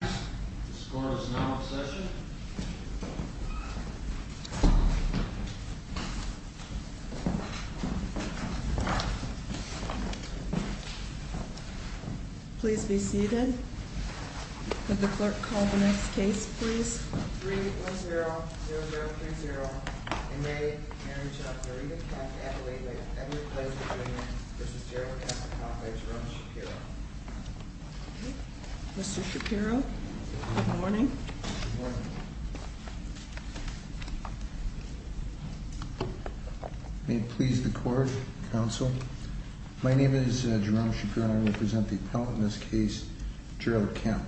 The score is now in session. Please be seated. Would the clerk call the next case, please? 3-1-0-0-0-3-0. In May, marriage of Marina Kemp, Adelaide Lake, Edward Place, Virginia, v. Gerald Kessler-Coffey, Jerome Shapiro. Mr. Shapiro, good morning. Good morning. May it please the court, counsel. My name is Jerome Shapiro, and I will present the appellant in this case, Gerald Kemp.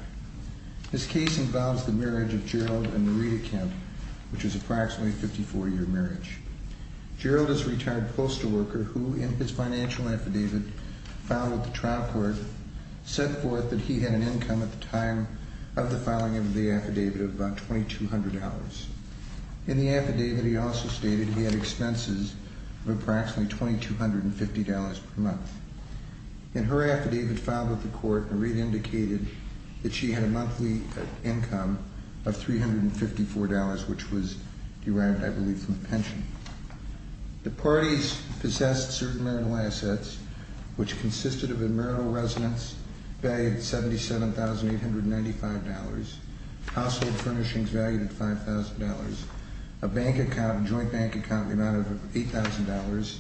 This case involves the marriage of Gerald and Marina Kemp, which is approximately a 54-year marriage. Gerald is a retired postal worker who, in his financial affidavit filed with the trial court, set forth that he had an income at the time of the filing of the affidavit of about $2,200. In the affidavit, he also stated he had expenses of approximately $2,250 per month. In her affidavit filed with the court, Marina indicated that she had a monthly income of $354, which was derived, I believe, from the pension. The parties possessed certain marital assets, which consisted of a marital residence valued at $77,895, household furnishings valued at $5,000, a bank account, a joint bank account, the amount of $8,000,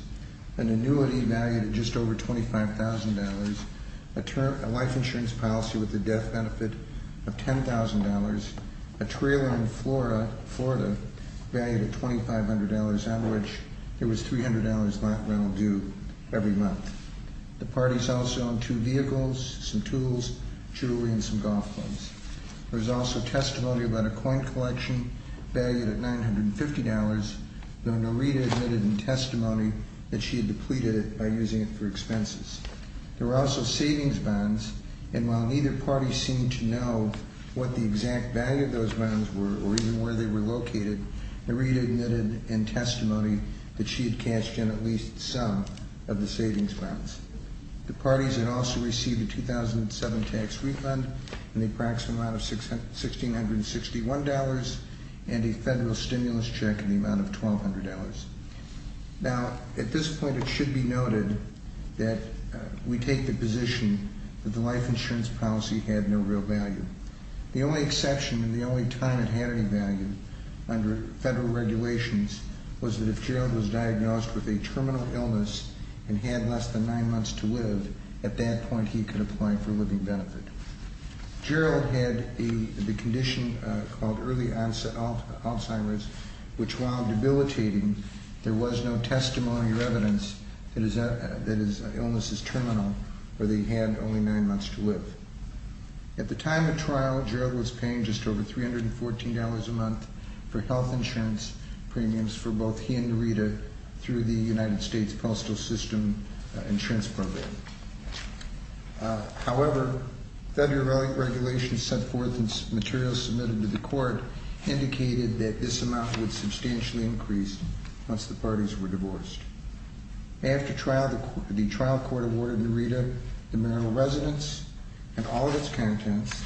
an annuity valued at just over $25,000, a life insurance policy with a death benefit of $10,000, a trailer in Florida valued at $2,500, on which it was $300 not rental due every month. The parties also owned two vehicles, some tools, jewelry, and some golf clubs. There was also testimony about a coin collection valued at $950, though Norita admitted in testimony that she had depleted it by using it for expenses. There were also savings bonds, and while neither party seemed to know what the exact value of those bonds were or even where they were located, Norita admitted in testimony that she had cashed in at least some of the savings bonds. The parties had also received a 2007 tax refund in the approximate amount of $1,661 and a federal stimulus check in the amount of $1,200. Now, at this point, it should be noted that we take the position that the life insurance policy had no real value. The only exception and the only time it had any value under federal regulations was that if Gerald was diagnosed with a terminal illness and had less than nine months to live, at that point he could apply for living benefit. Gerald had the condition called early Alzheimer's, which, while debilitating, there was no testimony or evidence that his illness is terminal or that he had only nine months to live. At the time of trial, Gerald was paying just over $314 a month for health insurance premiums for both he and Norita through the United States Postal System Insurance Program. However, federal regulations set forth in materials submitted to the court indicated that this amount would substantially increase once the parties were divorced. After trial, the trial court awarded Norita the marital residence and all of its contents,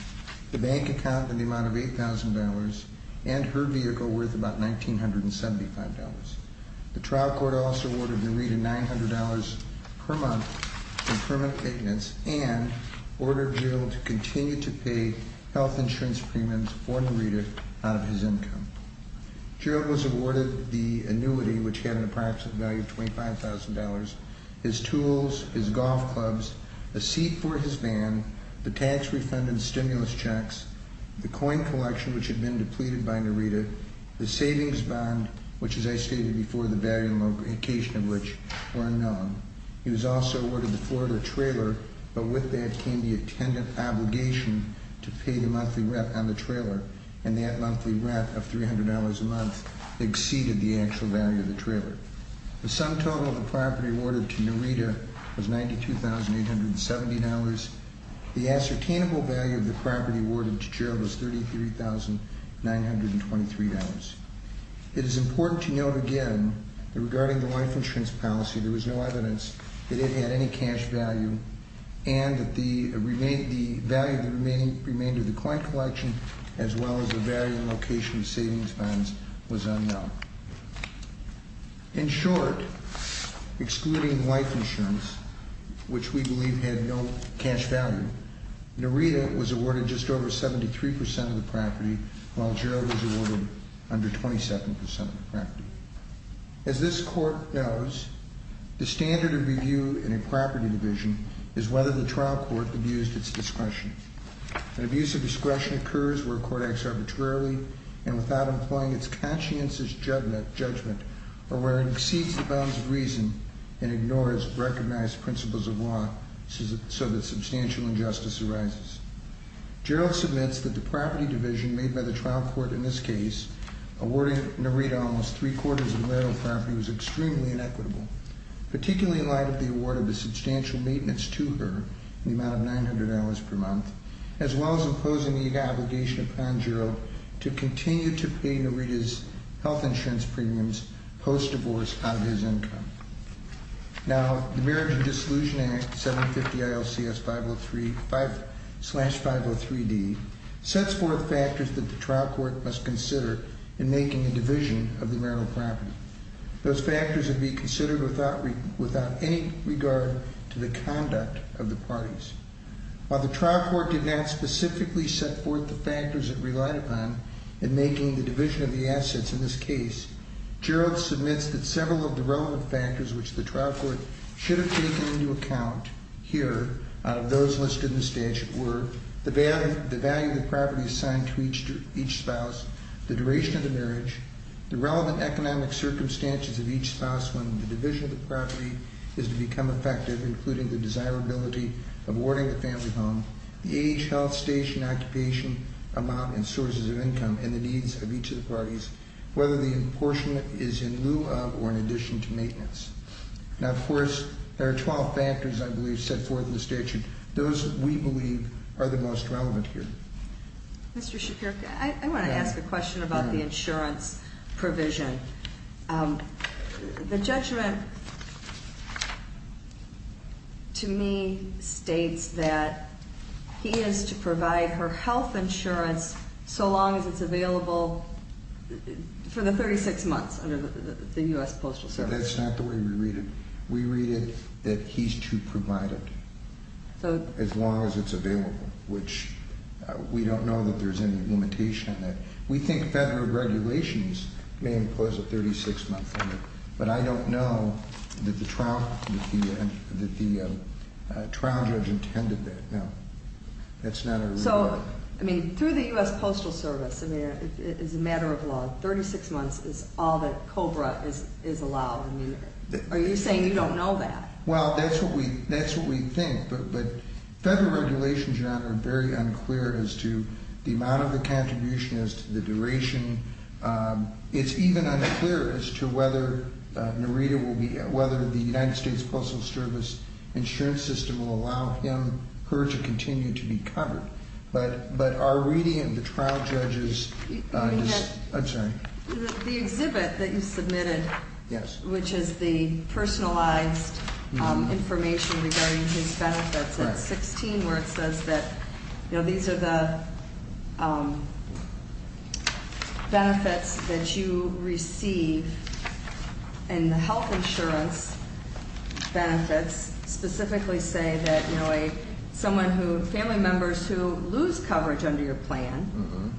the bank account in the amount of $8,000, and her vehicle worth about $1,975. The trial court also awarded Norita $900 per month in permanent payments and ordered Gerald to continue to pay health insurance premiums for Norita out of his income. Gerald was awarded the annuity, which had an approximate value of $25,000, his tools, his golf clubs, a seat for his van, the tax refund and stimulus checks, the coin collection, which had been depleted by Norita, the savings bond, which, as I stated before, the value and location of which were unknown. He was also awarded the Florida trailer, but with that came the attendant obligation to pay the monthly rent on the trailer, and that monthly rent of $300 a month exceeded the actual value of the trailer. The sum total of the property awarded to Norita was $92,870. The ascertainable value of the property awarded to Gerald was $33,923. It is important to note again that regarding the life insurance policy, there was no evidence that it had any cash value and that the value of the remainder of the coin collection as well as the value and location of savings bonds was unknown. In short, excluding life insurance, which we believe had no cash value, Norita was awarded just over 73% of the property, while Gerald was awarded under 22% of the property. As this court knows, the standard of review in a property division is whether the trial court abused its discretion. An abuse of discretion occurs where a court acts arbitrarily and without employing its conscientious judgment, or where it exceeds the bounds of reason and ignores recognized principles of law, so that substantial injustice arises. Gerald submits that the property division made by the trial court in this case, awarding Norita almost three quarters of the marital property was extremely inequitable, particularly in light of the award of the substantial maintenance to her in the amount of $900 per month, as well as imposing the obligation upon Gerald to continue to pay Norita's health insurance premiums post-divorce out of his income. Now, the Marriage and Dissolution Act, 750 ILCS 503D, sets forth factors that the trial court must consider in making a division of the marital property. Those factors would be considered without any regard to the conduct of the parties. While the trial court did not specifically set forth the factors it relied upon in making the division of the assets in this case, Gerald submits that several of the relevant factors which the trial court should have taken into account here out of those listed in the statute were the value of the property assigned to each spouse, the duration of the marriage, the relevant economic circumstances of each spouse when the division of the property is to become effective, including the desirability of awarding the family home, the age, health, station, occupation, amount, and sources of income, and the needs of each of the parties, whether the apportionment is in lieu of or in addition to maintenance. Now, of course, there are 12 factors, I believe, set forth in the statute. Those, we believe, are the most relevant here. Mr. Shapiro, I want to ask a question about the insurance provision. The judgment to me states that he is to provide her health insurance so long as it's available for the 36 months under the U.S. Postal Service. That's not the way we read it. We read it that he's to provide it as long as it's available, which we don't know that there's any limitation in that. We think federal regulations may impose a 36-month limit, but I don't know that the trial judge intended that. No, that's not our reading. So, I mean, through the U.S. Postal Service, I mean, it is a matter of law. 36 months is all that COBRA is allowed. Are you saying you don't know that? Well, that's what we think. But federal regulations are very unclear as to the amount of the contribution, as to the duration. It's even unclear as to whether Narita will be, whether the United States Postal Service insurance system will allow her to continue to be covered. But our reading of the trial judge's, I'm sorry. The exhibit that you submitted, which is the personalized information regarding his benefits, it's 16 where it says that these are the benefits that you receive. And the health insurance benefits specifically say that someone who, family members who lose coverage under your plan,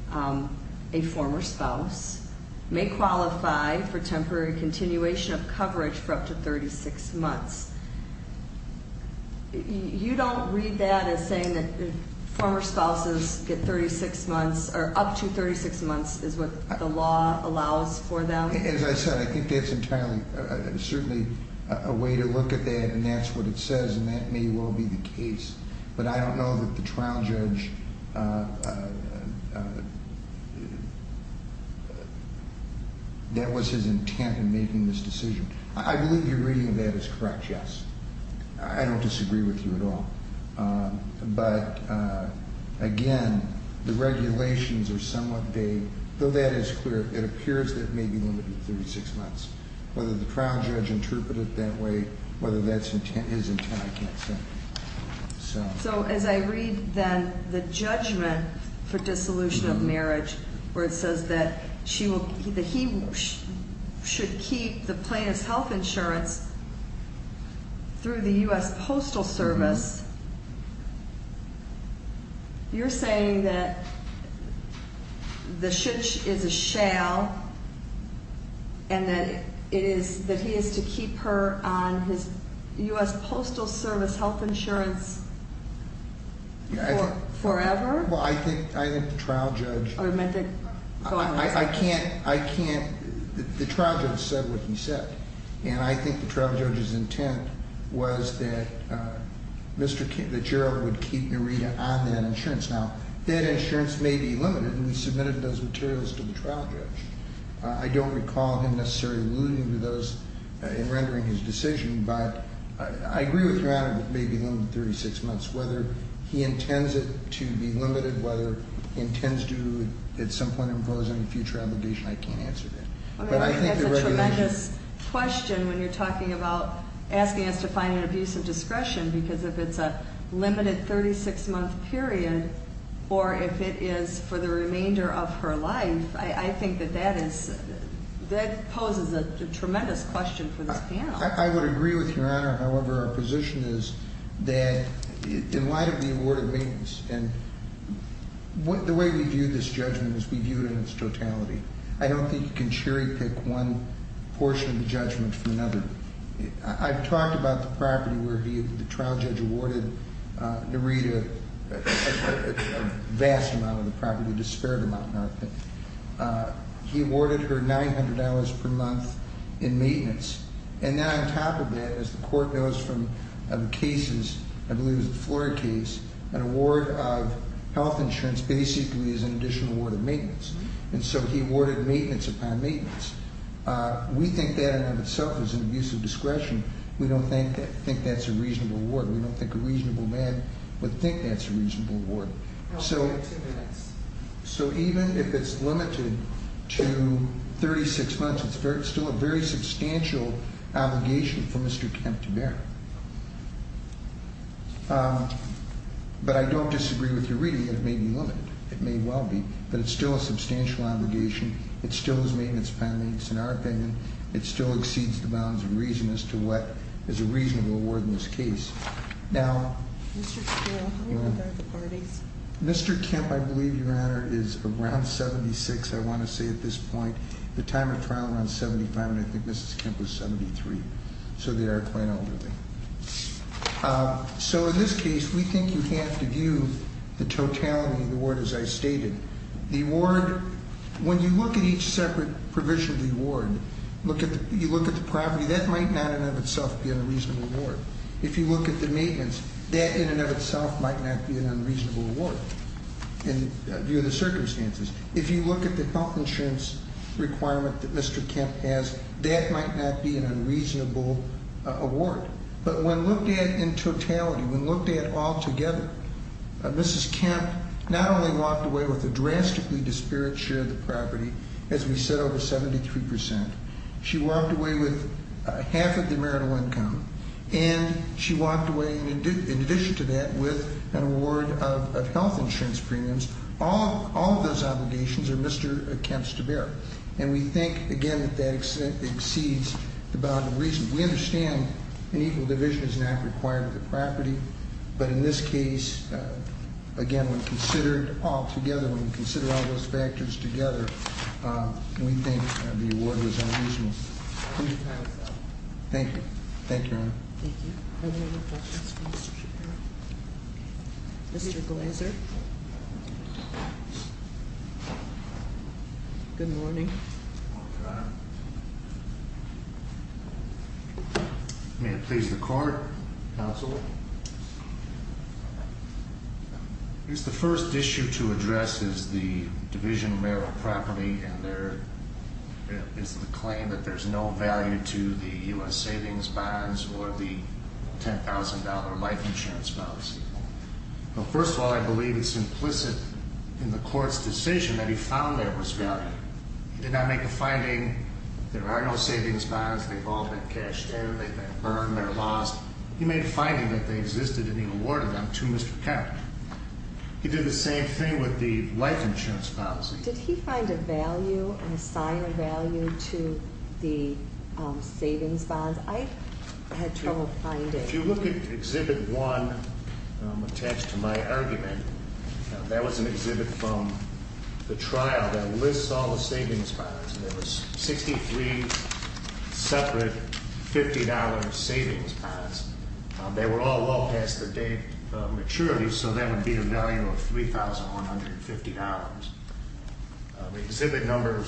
a former spouse, may qualify for temporary continuation of coverage for up to 36 months. You don't read that as saying that former spouses get 36 months, or up to 36 months is what the law allows for them? As I said, I think that's entirely, certainly a way to look at that, and that's what it says, and that may well be the case. But I don't know that the trial judge, that was his intent in making this decision. I believe your reading of that is correct, yes. I don't disagree with you at all. But again, the regulations are somewhat vague, though that is clear. It appears that it may be limited to 36 months. Whether the trial judge interpreted it that way, whether that's his intent, I can't say. So as I read then the judgment for dissolution of marriage, where it says that he should keep the plaintiff's health insurance through the US Postal Service. You're saying that the should is a shall, and that he is to keep her on his US Postal Service health insurance forever? Well, I think the trial judge- Oh, you meant that- I can't, I can't, the trial judge said what he said. And I think the trial judge's intent was that Gerald would keep Narita on that insurance. Now, that insurance may be limited, and we submitted those materials to the trial judge. I don't recall him necessarily alluding to those in rendering his decision, but I agree with your honor that it may be limited to 36 months. Whether he intends it to be limited, whether he intends to at some point impose any future obligation, I can't answer that. I mean, I think that's a tremendous question when you're talking about asking us to find an abuse of discretion, because if it's a limited 36-month period, or if it is for the remainder of her life, I think that that is, that poses a tremendous question for this panel. I would agree with your honor. However, our position is that in light of the award of maintenance, and the way we view this judgment is we view it in its totality. I don't think you can cherry pick one portion of the judgment from another. I've talked about the property where the trial judge awarded Narita a vast amount of the property, a disparate amount in our opinion. He awarded her $900 per month in maintenance. And then on top of that, as the court knows from the cases, I believe it was the Florida case, an award of health insurance basically is an additional award of maintenance. And so he awarded maintenance upon maintenance. We think that in and of itself is an abuse of discretion. We don't think that's a reasonable award. We don't think a reasonable man would think that's a reasonable award. So even if it's limited to 36 months, it's still a very substantial obligation for Mr. Kemp to bear. But I don't disagree with your reading that it may be limited. It may well be. But it's still a substantial obligation. It still is maintenance pending. It's in our opinion. It still exceeds the bounds of reason as to what is a reasonable award in this case. Now- Mr. Steele, how old are the parties? Mr. Kemp, I believe, Your Honor, is around 76, I want to say at this point. The time of trial around 75, and I think Mrs. Kemp was 73. So they are quite elderly. So in this case, we think you have to view the totality of the award as I stated. The award, when you look at each separate provision of the award, you look at the property, that might not in and of itself be a reasonable award. If you look at the maintenance, that in and of itself might not be an unreasonable award, in view of the circumstances. If you look at the health insurance requirement that Mr. Kemp has, that might not be an unreasonable award. But when looked at in totality, when looked at all together, Mrs. Kemp not only walked away with a drastically disparate share of the property, as we said, over 73 percent, she walked away with half of the marital income, and she walked away, in addition to that, with an award of health insurance premiums. All of those obligations are Mr. Kemp's to bear. And we think, again, that exceeds the bound of reason. We understand an equal division is not required with the property. But in this case, again, when considered all together, when we consider all those factors together, we think the award was unreasonable. Thank you. Thank you, Your Honor. Thank you. Are there any questions for Mr. Chairman? Mr. Glazer? Good morning. Good morning, Your Honor. May it please the Court, Counsel? I guess the first issue to address is the division marital property, and there is the claim that there's no value to the U.S. savings bonds or the $10,000 life insurance policy. Well, first of all, I believe it's implicit in the Court's decision that he found there was value. He did not make a finding, there are no savings bonds, they've all been cashed in, they've been burned, they're lost. He made a finding that they existed, and he awarded them to Mr. Kemp. He did the same thing with the life insurance policy. Did he find a value and assign a value to the savings bonds? I had trouble finding. If you look at Exhibit 1, attached to my argument, that was an exhibit from the trial that lists all the savings bonds. There were 63 separate $50 savings bonds. They were all well past their date of maturity, so that would be the value of $3,150. Exhibit No.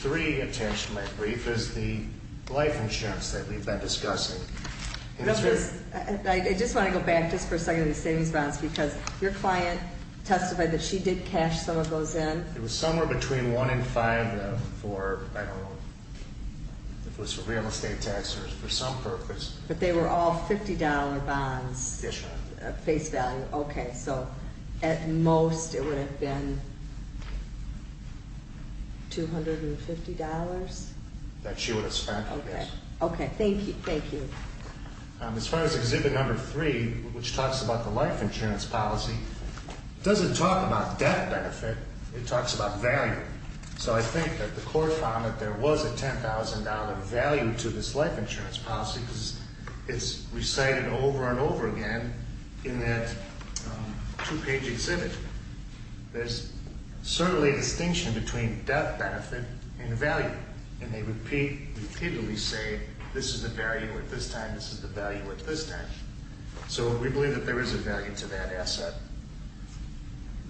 3, attached to my brief, is the life insurance that we've been discussing. I just want to go back just for a second to the savings bonds, because your client testified that she did cash some of those in. It was somewhere between one and five for, I don't know, if it was for real estate tax or for some purpose. But they were all $50 bonds? Yes, ma'am. Okay, so at most it would have been $250? That she would have spent, yes. Okay, thank you. As far as Exhibit No. 3, which talks about the life insurance policy, it doesn't talk about debt benefit. It talks about value. So I think that the court found that there was a $10,000 value to this life insurance policy, because it's recited over and over again in that two-page exhibit. There's certainly a distinction between debt benefit and value, and they repeatedly say, this is the value at this time, this is the value at this time. So we believe that there is a value to that asset.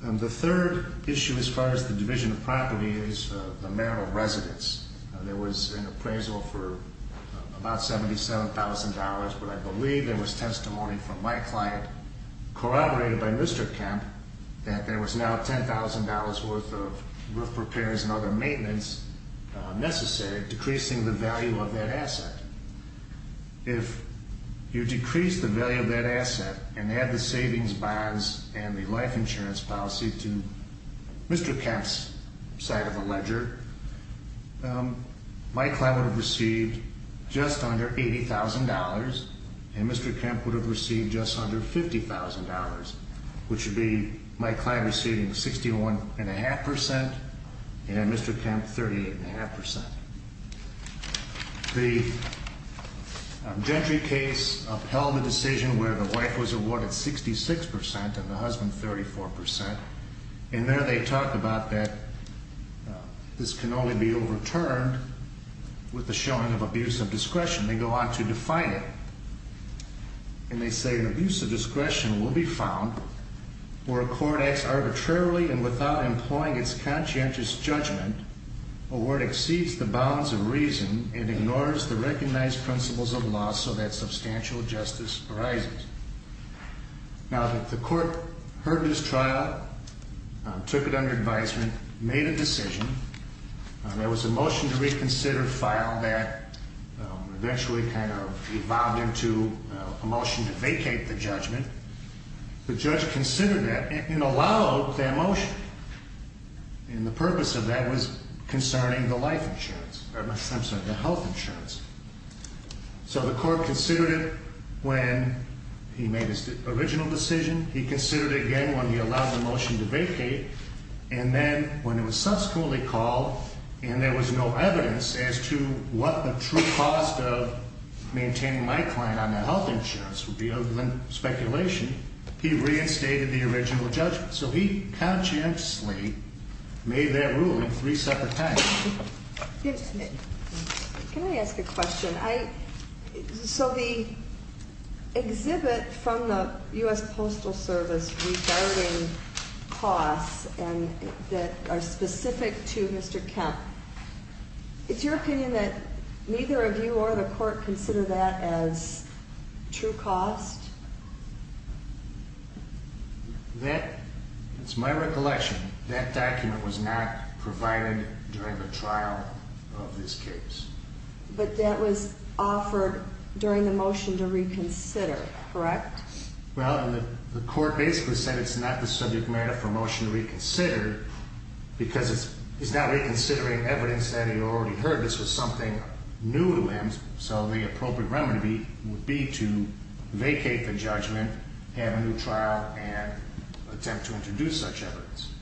The third issue as far as the division of property is the amount of residence. There was an appraisal for about $77,000, but I believe there was testimony from my client corroborated by Mr. Kemp that there was now $10,000 worth of roof repairs and other maintenance necessary, decreasing the value of that asset. If you decrease the value of that asset and add the savings bonds and the life insurance policy to Mr. Kemp's side of the ledger, my client would have received just under $80,000, and Mr. Kemp would have received just under $50,000, which would be my client receiving 61.5% and Mr. Kemp 38.5%. The Gentry case upheld the decision where the wife was awarded 66% and the husband 34%, and there they talk about that this can only be overturned with the showing of abuse of discretion. They go on to define it, and they say, an abuse of discretion will be found where a court acts arbitrarily and without employing its conscientious judgment or where it exceeds the bounds of reason and ignores the recognized principles of law so that substantial justice arises. Now, the court heard this trial, took it under advisement, made a decision. There was a motion to reconsider file that eventually kind of evolved into a motion to vacate the judgment. The judge considered that and allowed that motion, and the purpose of that was concerning the life insurance, I'm sorry, the health insurance. So the court considered it when he made his original decision. He considered it again when he allowed the motion to vacate, and then when it was subsequently called and there was no evidence as to what the true cost of maintaining my client on that health insurance would be other than speculation, he reinstated the original judgment. So he conscientiously made that ruling three separate times. Can I ask a question? So the exhibit from the U.S. Postal Service regarding costs that are specific to Mr. Kemp, it's your opinion that neither of you or the court consider that as true cost? That, it's my recollection, that document was not provided during the trial of this case. But that was offered during the motion to reconsider, correct? Well, the court basically said it's not the subject matter for motion to reconsider because he's not reconsidering evidence that he already heard. So the appropriate remedy would be to vacate the judgment, have a new trial, and attempt to introduce such evidence.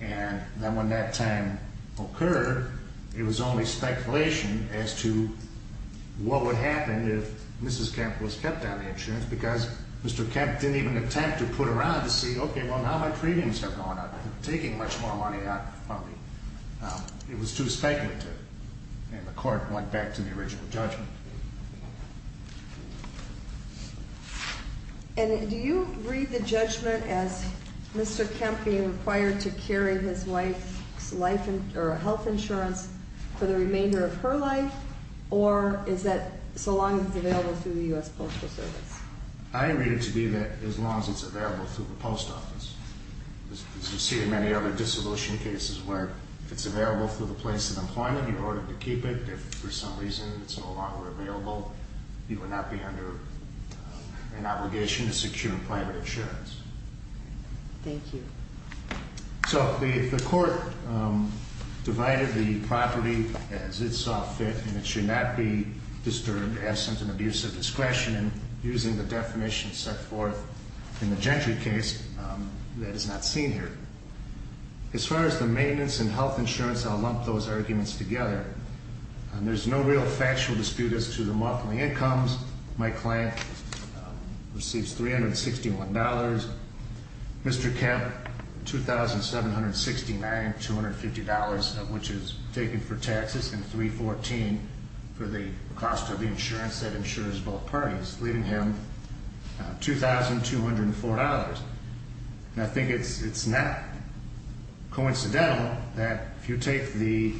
And then when that time occurred, it was only speculation as to what would happen if Mrs. Kemp was kept on the insurance because Mr. Kemp didn't even attempt to put around to see, okay, well, now my premiums are going up. They're taking much more money out from me. It was too speculative, and the court went back to the original judgment. And do you read the judgment as Mr. Kemp being required to carry his wife's life or health insurance for the remainder of her life, or is that so long as it's available through the U.S. Postal Service? I read it to be that as long as it's available through the post office. As you see in many other dissolution cases where if it's available through the place of employment, you're ordered to keep it. If for some reason it's no longer available, you would not be under an obligation to secure private insurance. Thank you. So the court divided the property as it saw fit, and it should not be disturbed, absent, and abuse of discretion. And using the definition set forth in the Gentry case, that is not seen here. As far as the maintenance and health insurance, I'll lump those arguments together. There's no real factual dispute as to the monthly incomes. My client receives $361. Mr. Kemp $2,769, $250 of which is taken for taxes, and $314 for the cost of the insurance that insures both parties, leaving him $2,204. And I think it's not coincidental that if you take the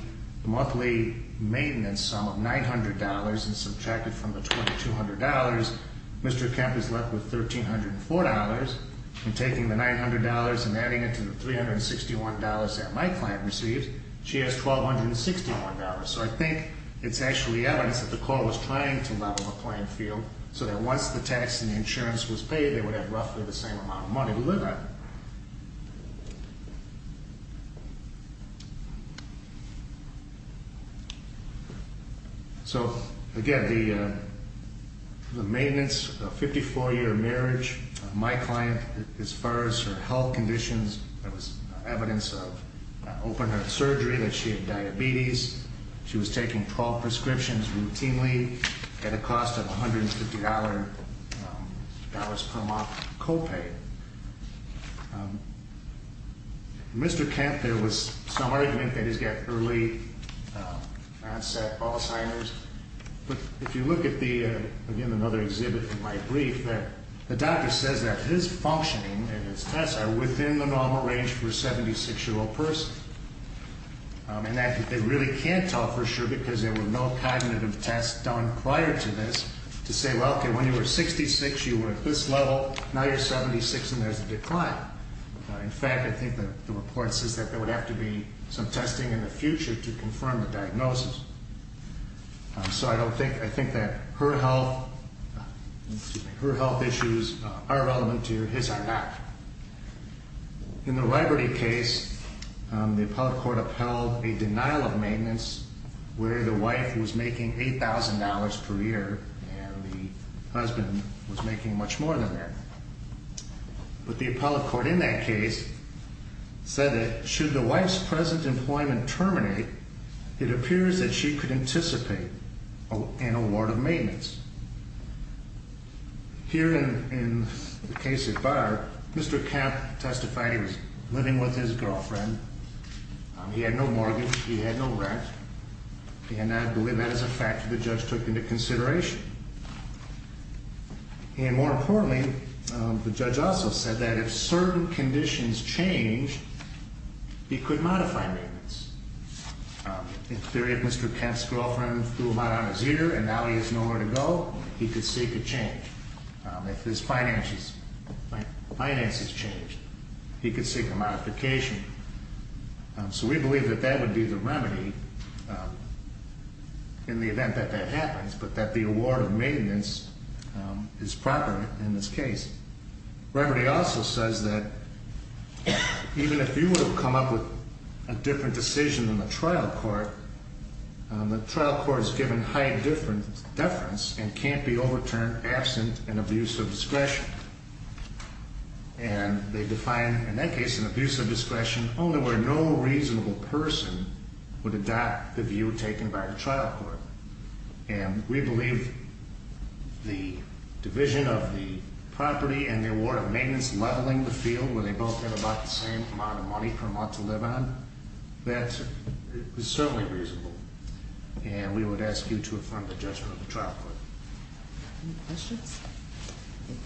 monthly maintenance sum of $900 and subtract it from the $2,200, Mr. Kemp is left with $1,304. And taking the $900 and adding it to the $361 that my client receives, she has $1,261. So I think it's actually evidence that the court was trying to level the playing field so that once the tax and the insurance was paid, they would have roughly the same amount of money to live on. So, again, the maintenance of a 54-year marriage, my client, as far as her health conditions, that was evidence of open-heart surgery, that she had diabetes. She was taking 12 prescriptions routinely at a cost of $150 per month co-paid. Mr. Kemp, there was some argument that he's got early onset Alzheimer's. But if you look at the, again, another exhibit in my brief, the doctor says that his functioning and his tests are within the normal range for a 76-year-old person. And that they really can't tell for sure because there were no cognitive tests done prior to this to say, well, okay, when you were 66, you were at this level, now you're 76 and there's a decline. In fact, I think the report says that there would have to be some testing in the future to confirm the diagnosis. So I don't think, I think that her health, her health issues are relevant to his or not. In the Liberty case, the appellate court upheld a denial of maintenance where the wife was making $8,000 per year and the husband was making much more than that. But the appellate court in that case said that should the wife's present employment terminate, it appears that she could anticipate an award of maintenance. Here in the case of Barr, Mr. Kemp testified he was living with his girlfriend. He had no mortgage. He had no rent. And I believe that is a factor the judge took into consideration. And more importantly, the judge also said that if certain conditions change, he could modify maintenance. In theory, if Mr. Kemp's girlfriend threw mud on his ear and now he has nowhere to go, he could seek a change. If his finances changed, he could seek a modification. So we believe that that would be the remedy in the event that that happens, but that the award of maintenance is proper in this case. Remedy also says that even if you would have come up with a different decision in the trial court, the trial court is given high deference and can't be overturned absent an abuse of discretion. And they define, in that case, an abuse of discretion only where no reasonable person would adopt the view taken by the trial court. And we believe the division of the property and the award of maintenance leveling the field, where they both have about the same amount of money from what to live on, that is certainly reasonable. And we would ask you to affirm the judgment of the trial court. Any questions?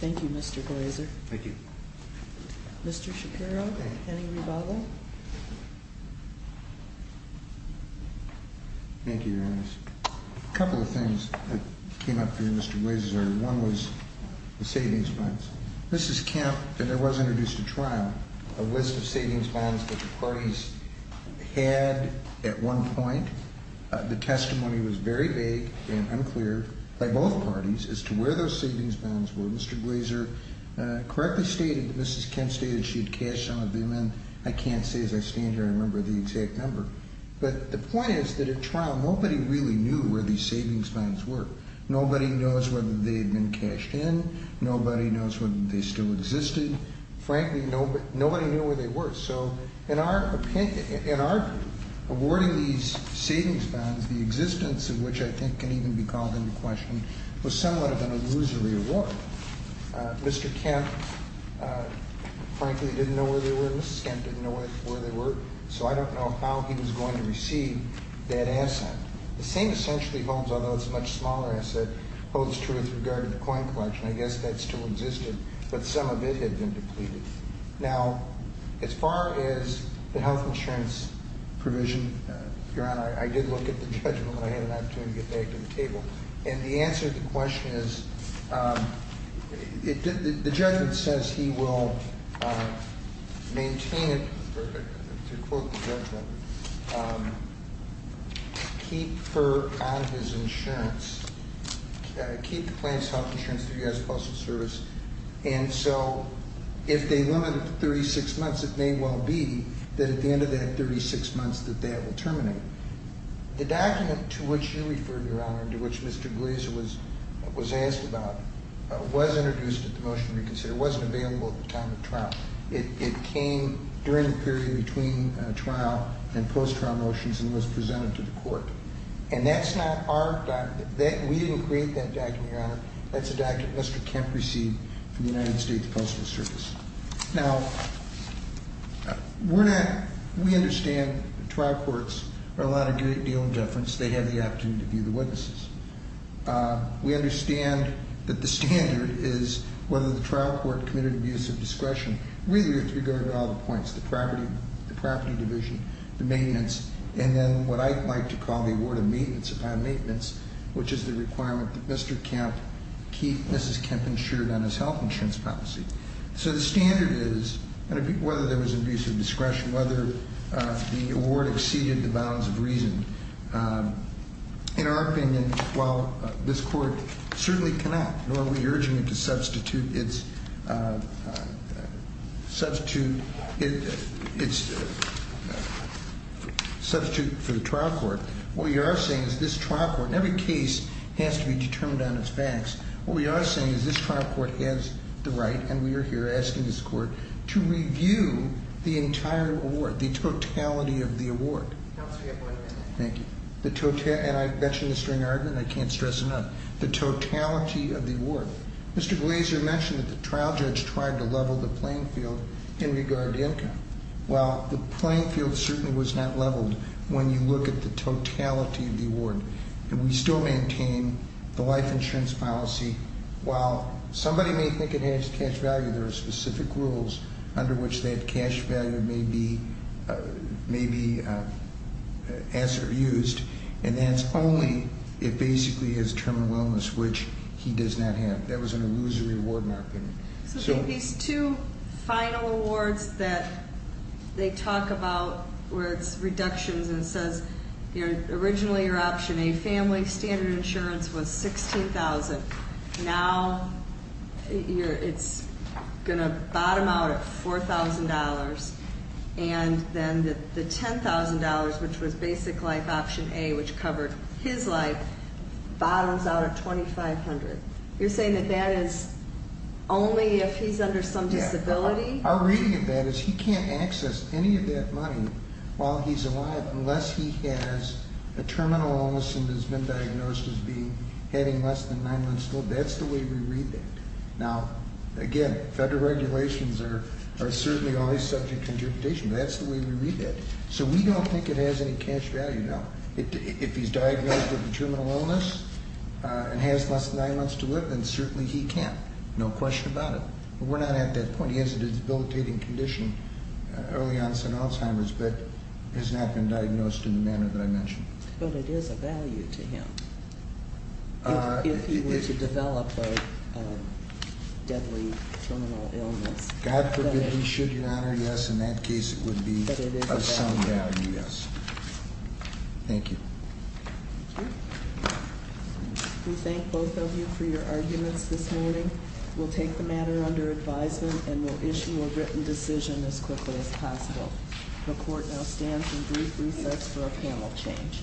Thank you, Mr. Glazer. Thank you. Mr. Shapiro, any rebuttal? Thank you, Your Honor. A couple of things that came up here, Mr. Glazer. One was the savings bonds. Mrs. Kemp, when there was introduced a trial, a list of savings bonds that the parties had at one point, the testimony was very vague and unclear by both parties as to where those savings bonds were. Mr. Glazer correctly stated, Mrs. Kemp stated she had cashed some of them in. I can't say as I stand here, I remember the exact number. But the point is that at trial, nobody really knew where these savings bonds were. Nobody knows whether they had been cashed in. Nobody knows whether they still existed. Frankly, nobody knew where they were. So in our opinion, in our awarding these savings bonds, the existence of which I think can even be called into question, was somewhat of an illusory award. Mr. Kemp, frankly, didn't know where they were. Mrs. Kemp didn't know where they were. So I don't know how he was going to receive that asset. The same essentially holds, although it's a much smaller asset, holds true with regard to the coin collection. I guess that still existed, but some of it had been depleted. Now, as far as the health insurance provision, Your Honor, I did look at the judgment when I had an opportunity to get back to the table. And the answer to the question is, the judgment says he will maintain it, to quote the judgment, keep her on his insurance, keep the plans health insurance through U.S. Postal Service. And so if they limit it to 36 months, it may well be that at the end of that 36 months that that will terminate. The document to which you referred, Your Honor, and to which Mr. Glazer was asked about, was introduced at the motion to reconsider. It wasn't available at the time of trial. It came during the period between trial and post-trial motions and was presented to the court. And that's not our document. We didn't create that document, Your Honor. That's a document Mr. Kemp received from the United States Postal Service. Now, we understand trial courts are allowed a great deal of deference. They have the opportunity to view the witnesses. We understand that the standard is whether the trial court committed abuse of discretion, really with regard to all the points, the property division, the maintenance, and then what I like to call the award of maintenance upon maintenance, which is the requirement that Mr. Kemp keep Mrs. Kemp insured on his health insurance policy. So the standard is, whether there was abuse of discretion, whether the award exceeded the bounds of reason, in our opinion, while this court certainly cannot, nor are we urging it to substitute for the trial court, what we are saying is this trial court, and every case has to be determined on its facts, what we are saying is this trial court has the right, and we are here asking this court, to review the entire award, the totality of the award. Counsel, you have one minute. Thank you. And I mentioned the string argument. I can't stress it enough. The totality of the award. Mr. Glazer mentioned that the trial judge tried to level the playing field in regard to income. Well, the playing field certainly was not leveled when you look at the totality of the award. And we still maintain the life insurance policy. While somebody may think it has cash value, there are specific rules under which that cash value may be used. And that's only, it basically is terminal illness, which he does not have. That was an illusory award in our opinion. So these two final awards that they talk about where it's reductions and it says, originally your option A, family standard insurance, was $16,000. Now it's going to bottom out at $4,000. And then the $10,000, which was basic life option A, which covered his life, bottoms out at $2,500. You're saying that that is only if he's under some disability? Our reading of that is he can't access any of that money while he's alive unless he has a terminal illness and has been diagnosed as having less than nine months old. That's the way we read that. Now, again, federal regulations are certainly always subject to interpretation. That's the way we read that. So we don't think it has any cash value. If he's diagnosed with a terminal illness and has less than nine months to live, then certainly he can. No question about it. But we're not at that point. He has a debilitating condition early on in Alzheimer's but has not been diagnosed in the manner that I mentioned. But it is a value to him if he were to develop a deadly terminal illness. God forbid he should, Your Honor, yes. In that case, it would be of some value, yes. Thank you. Thank you. We thank both of you for your arguments this morning. We'll take the matter under advisement and we'll issue a written decision as quickly as possible. The court now stands in brief recess for a panel change.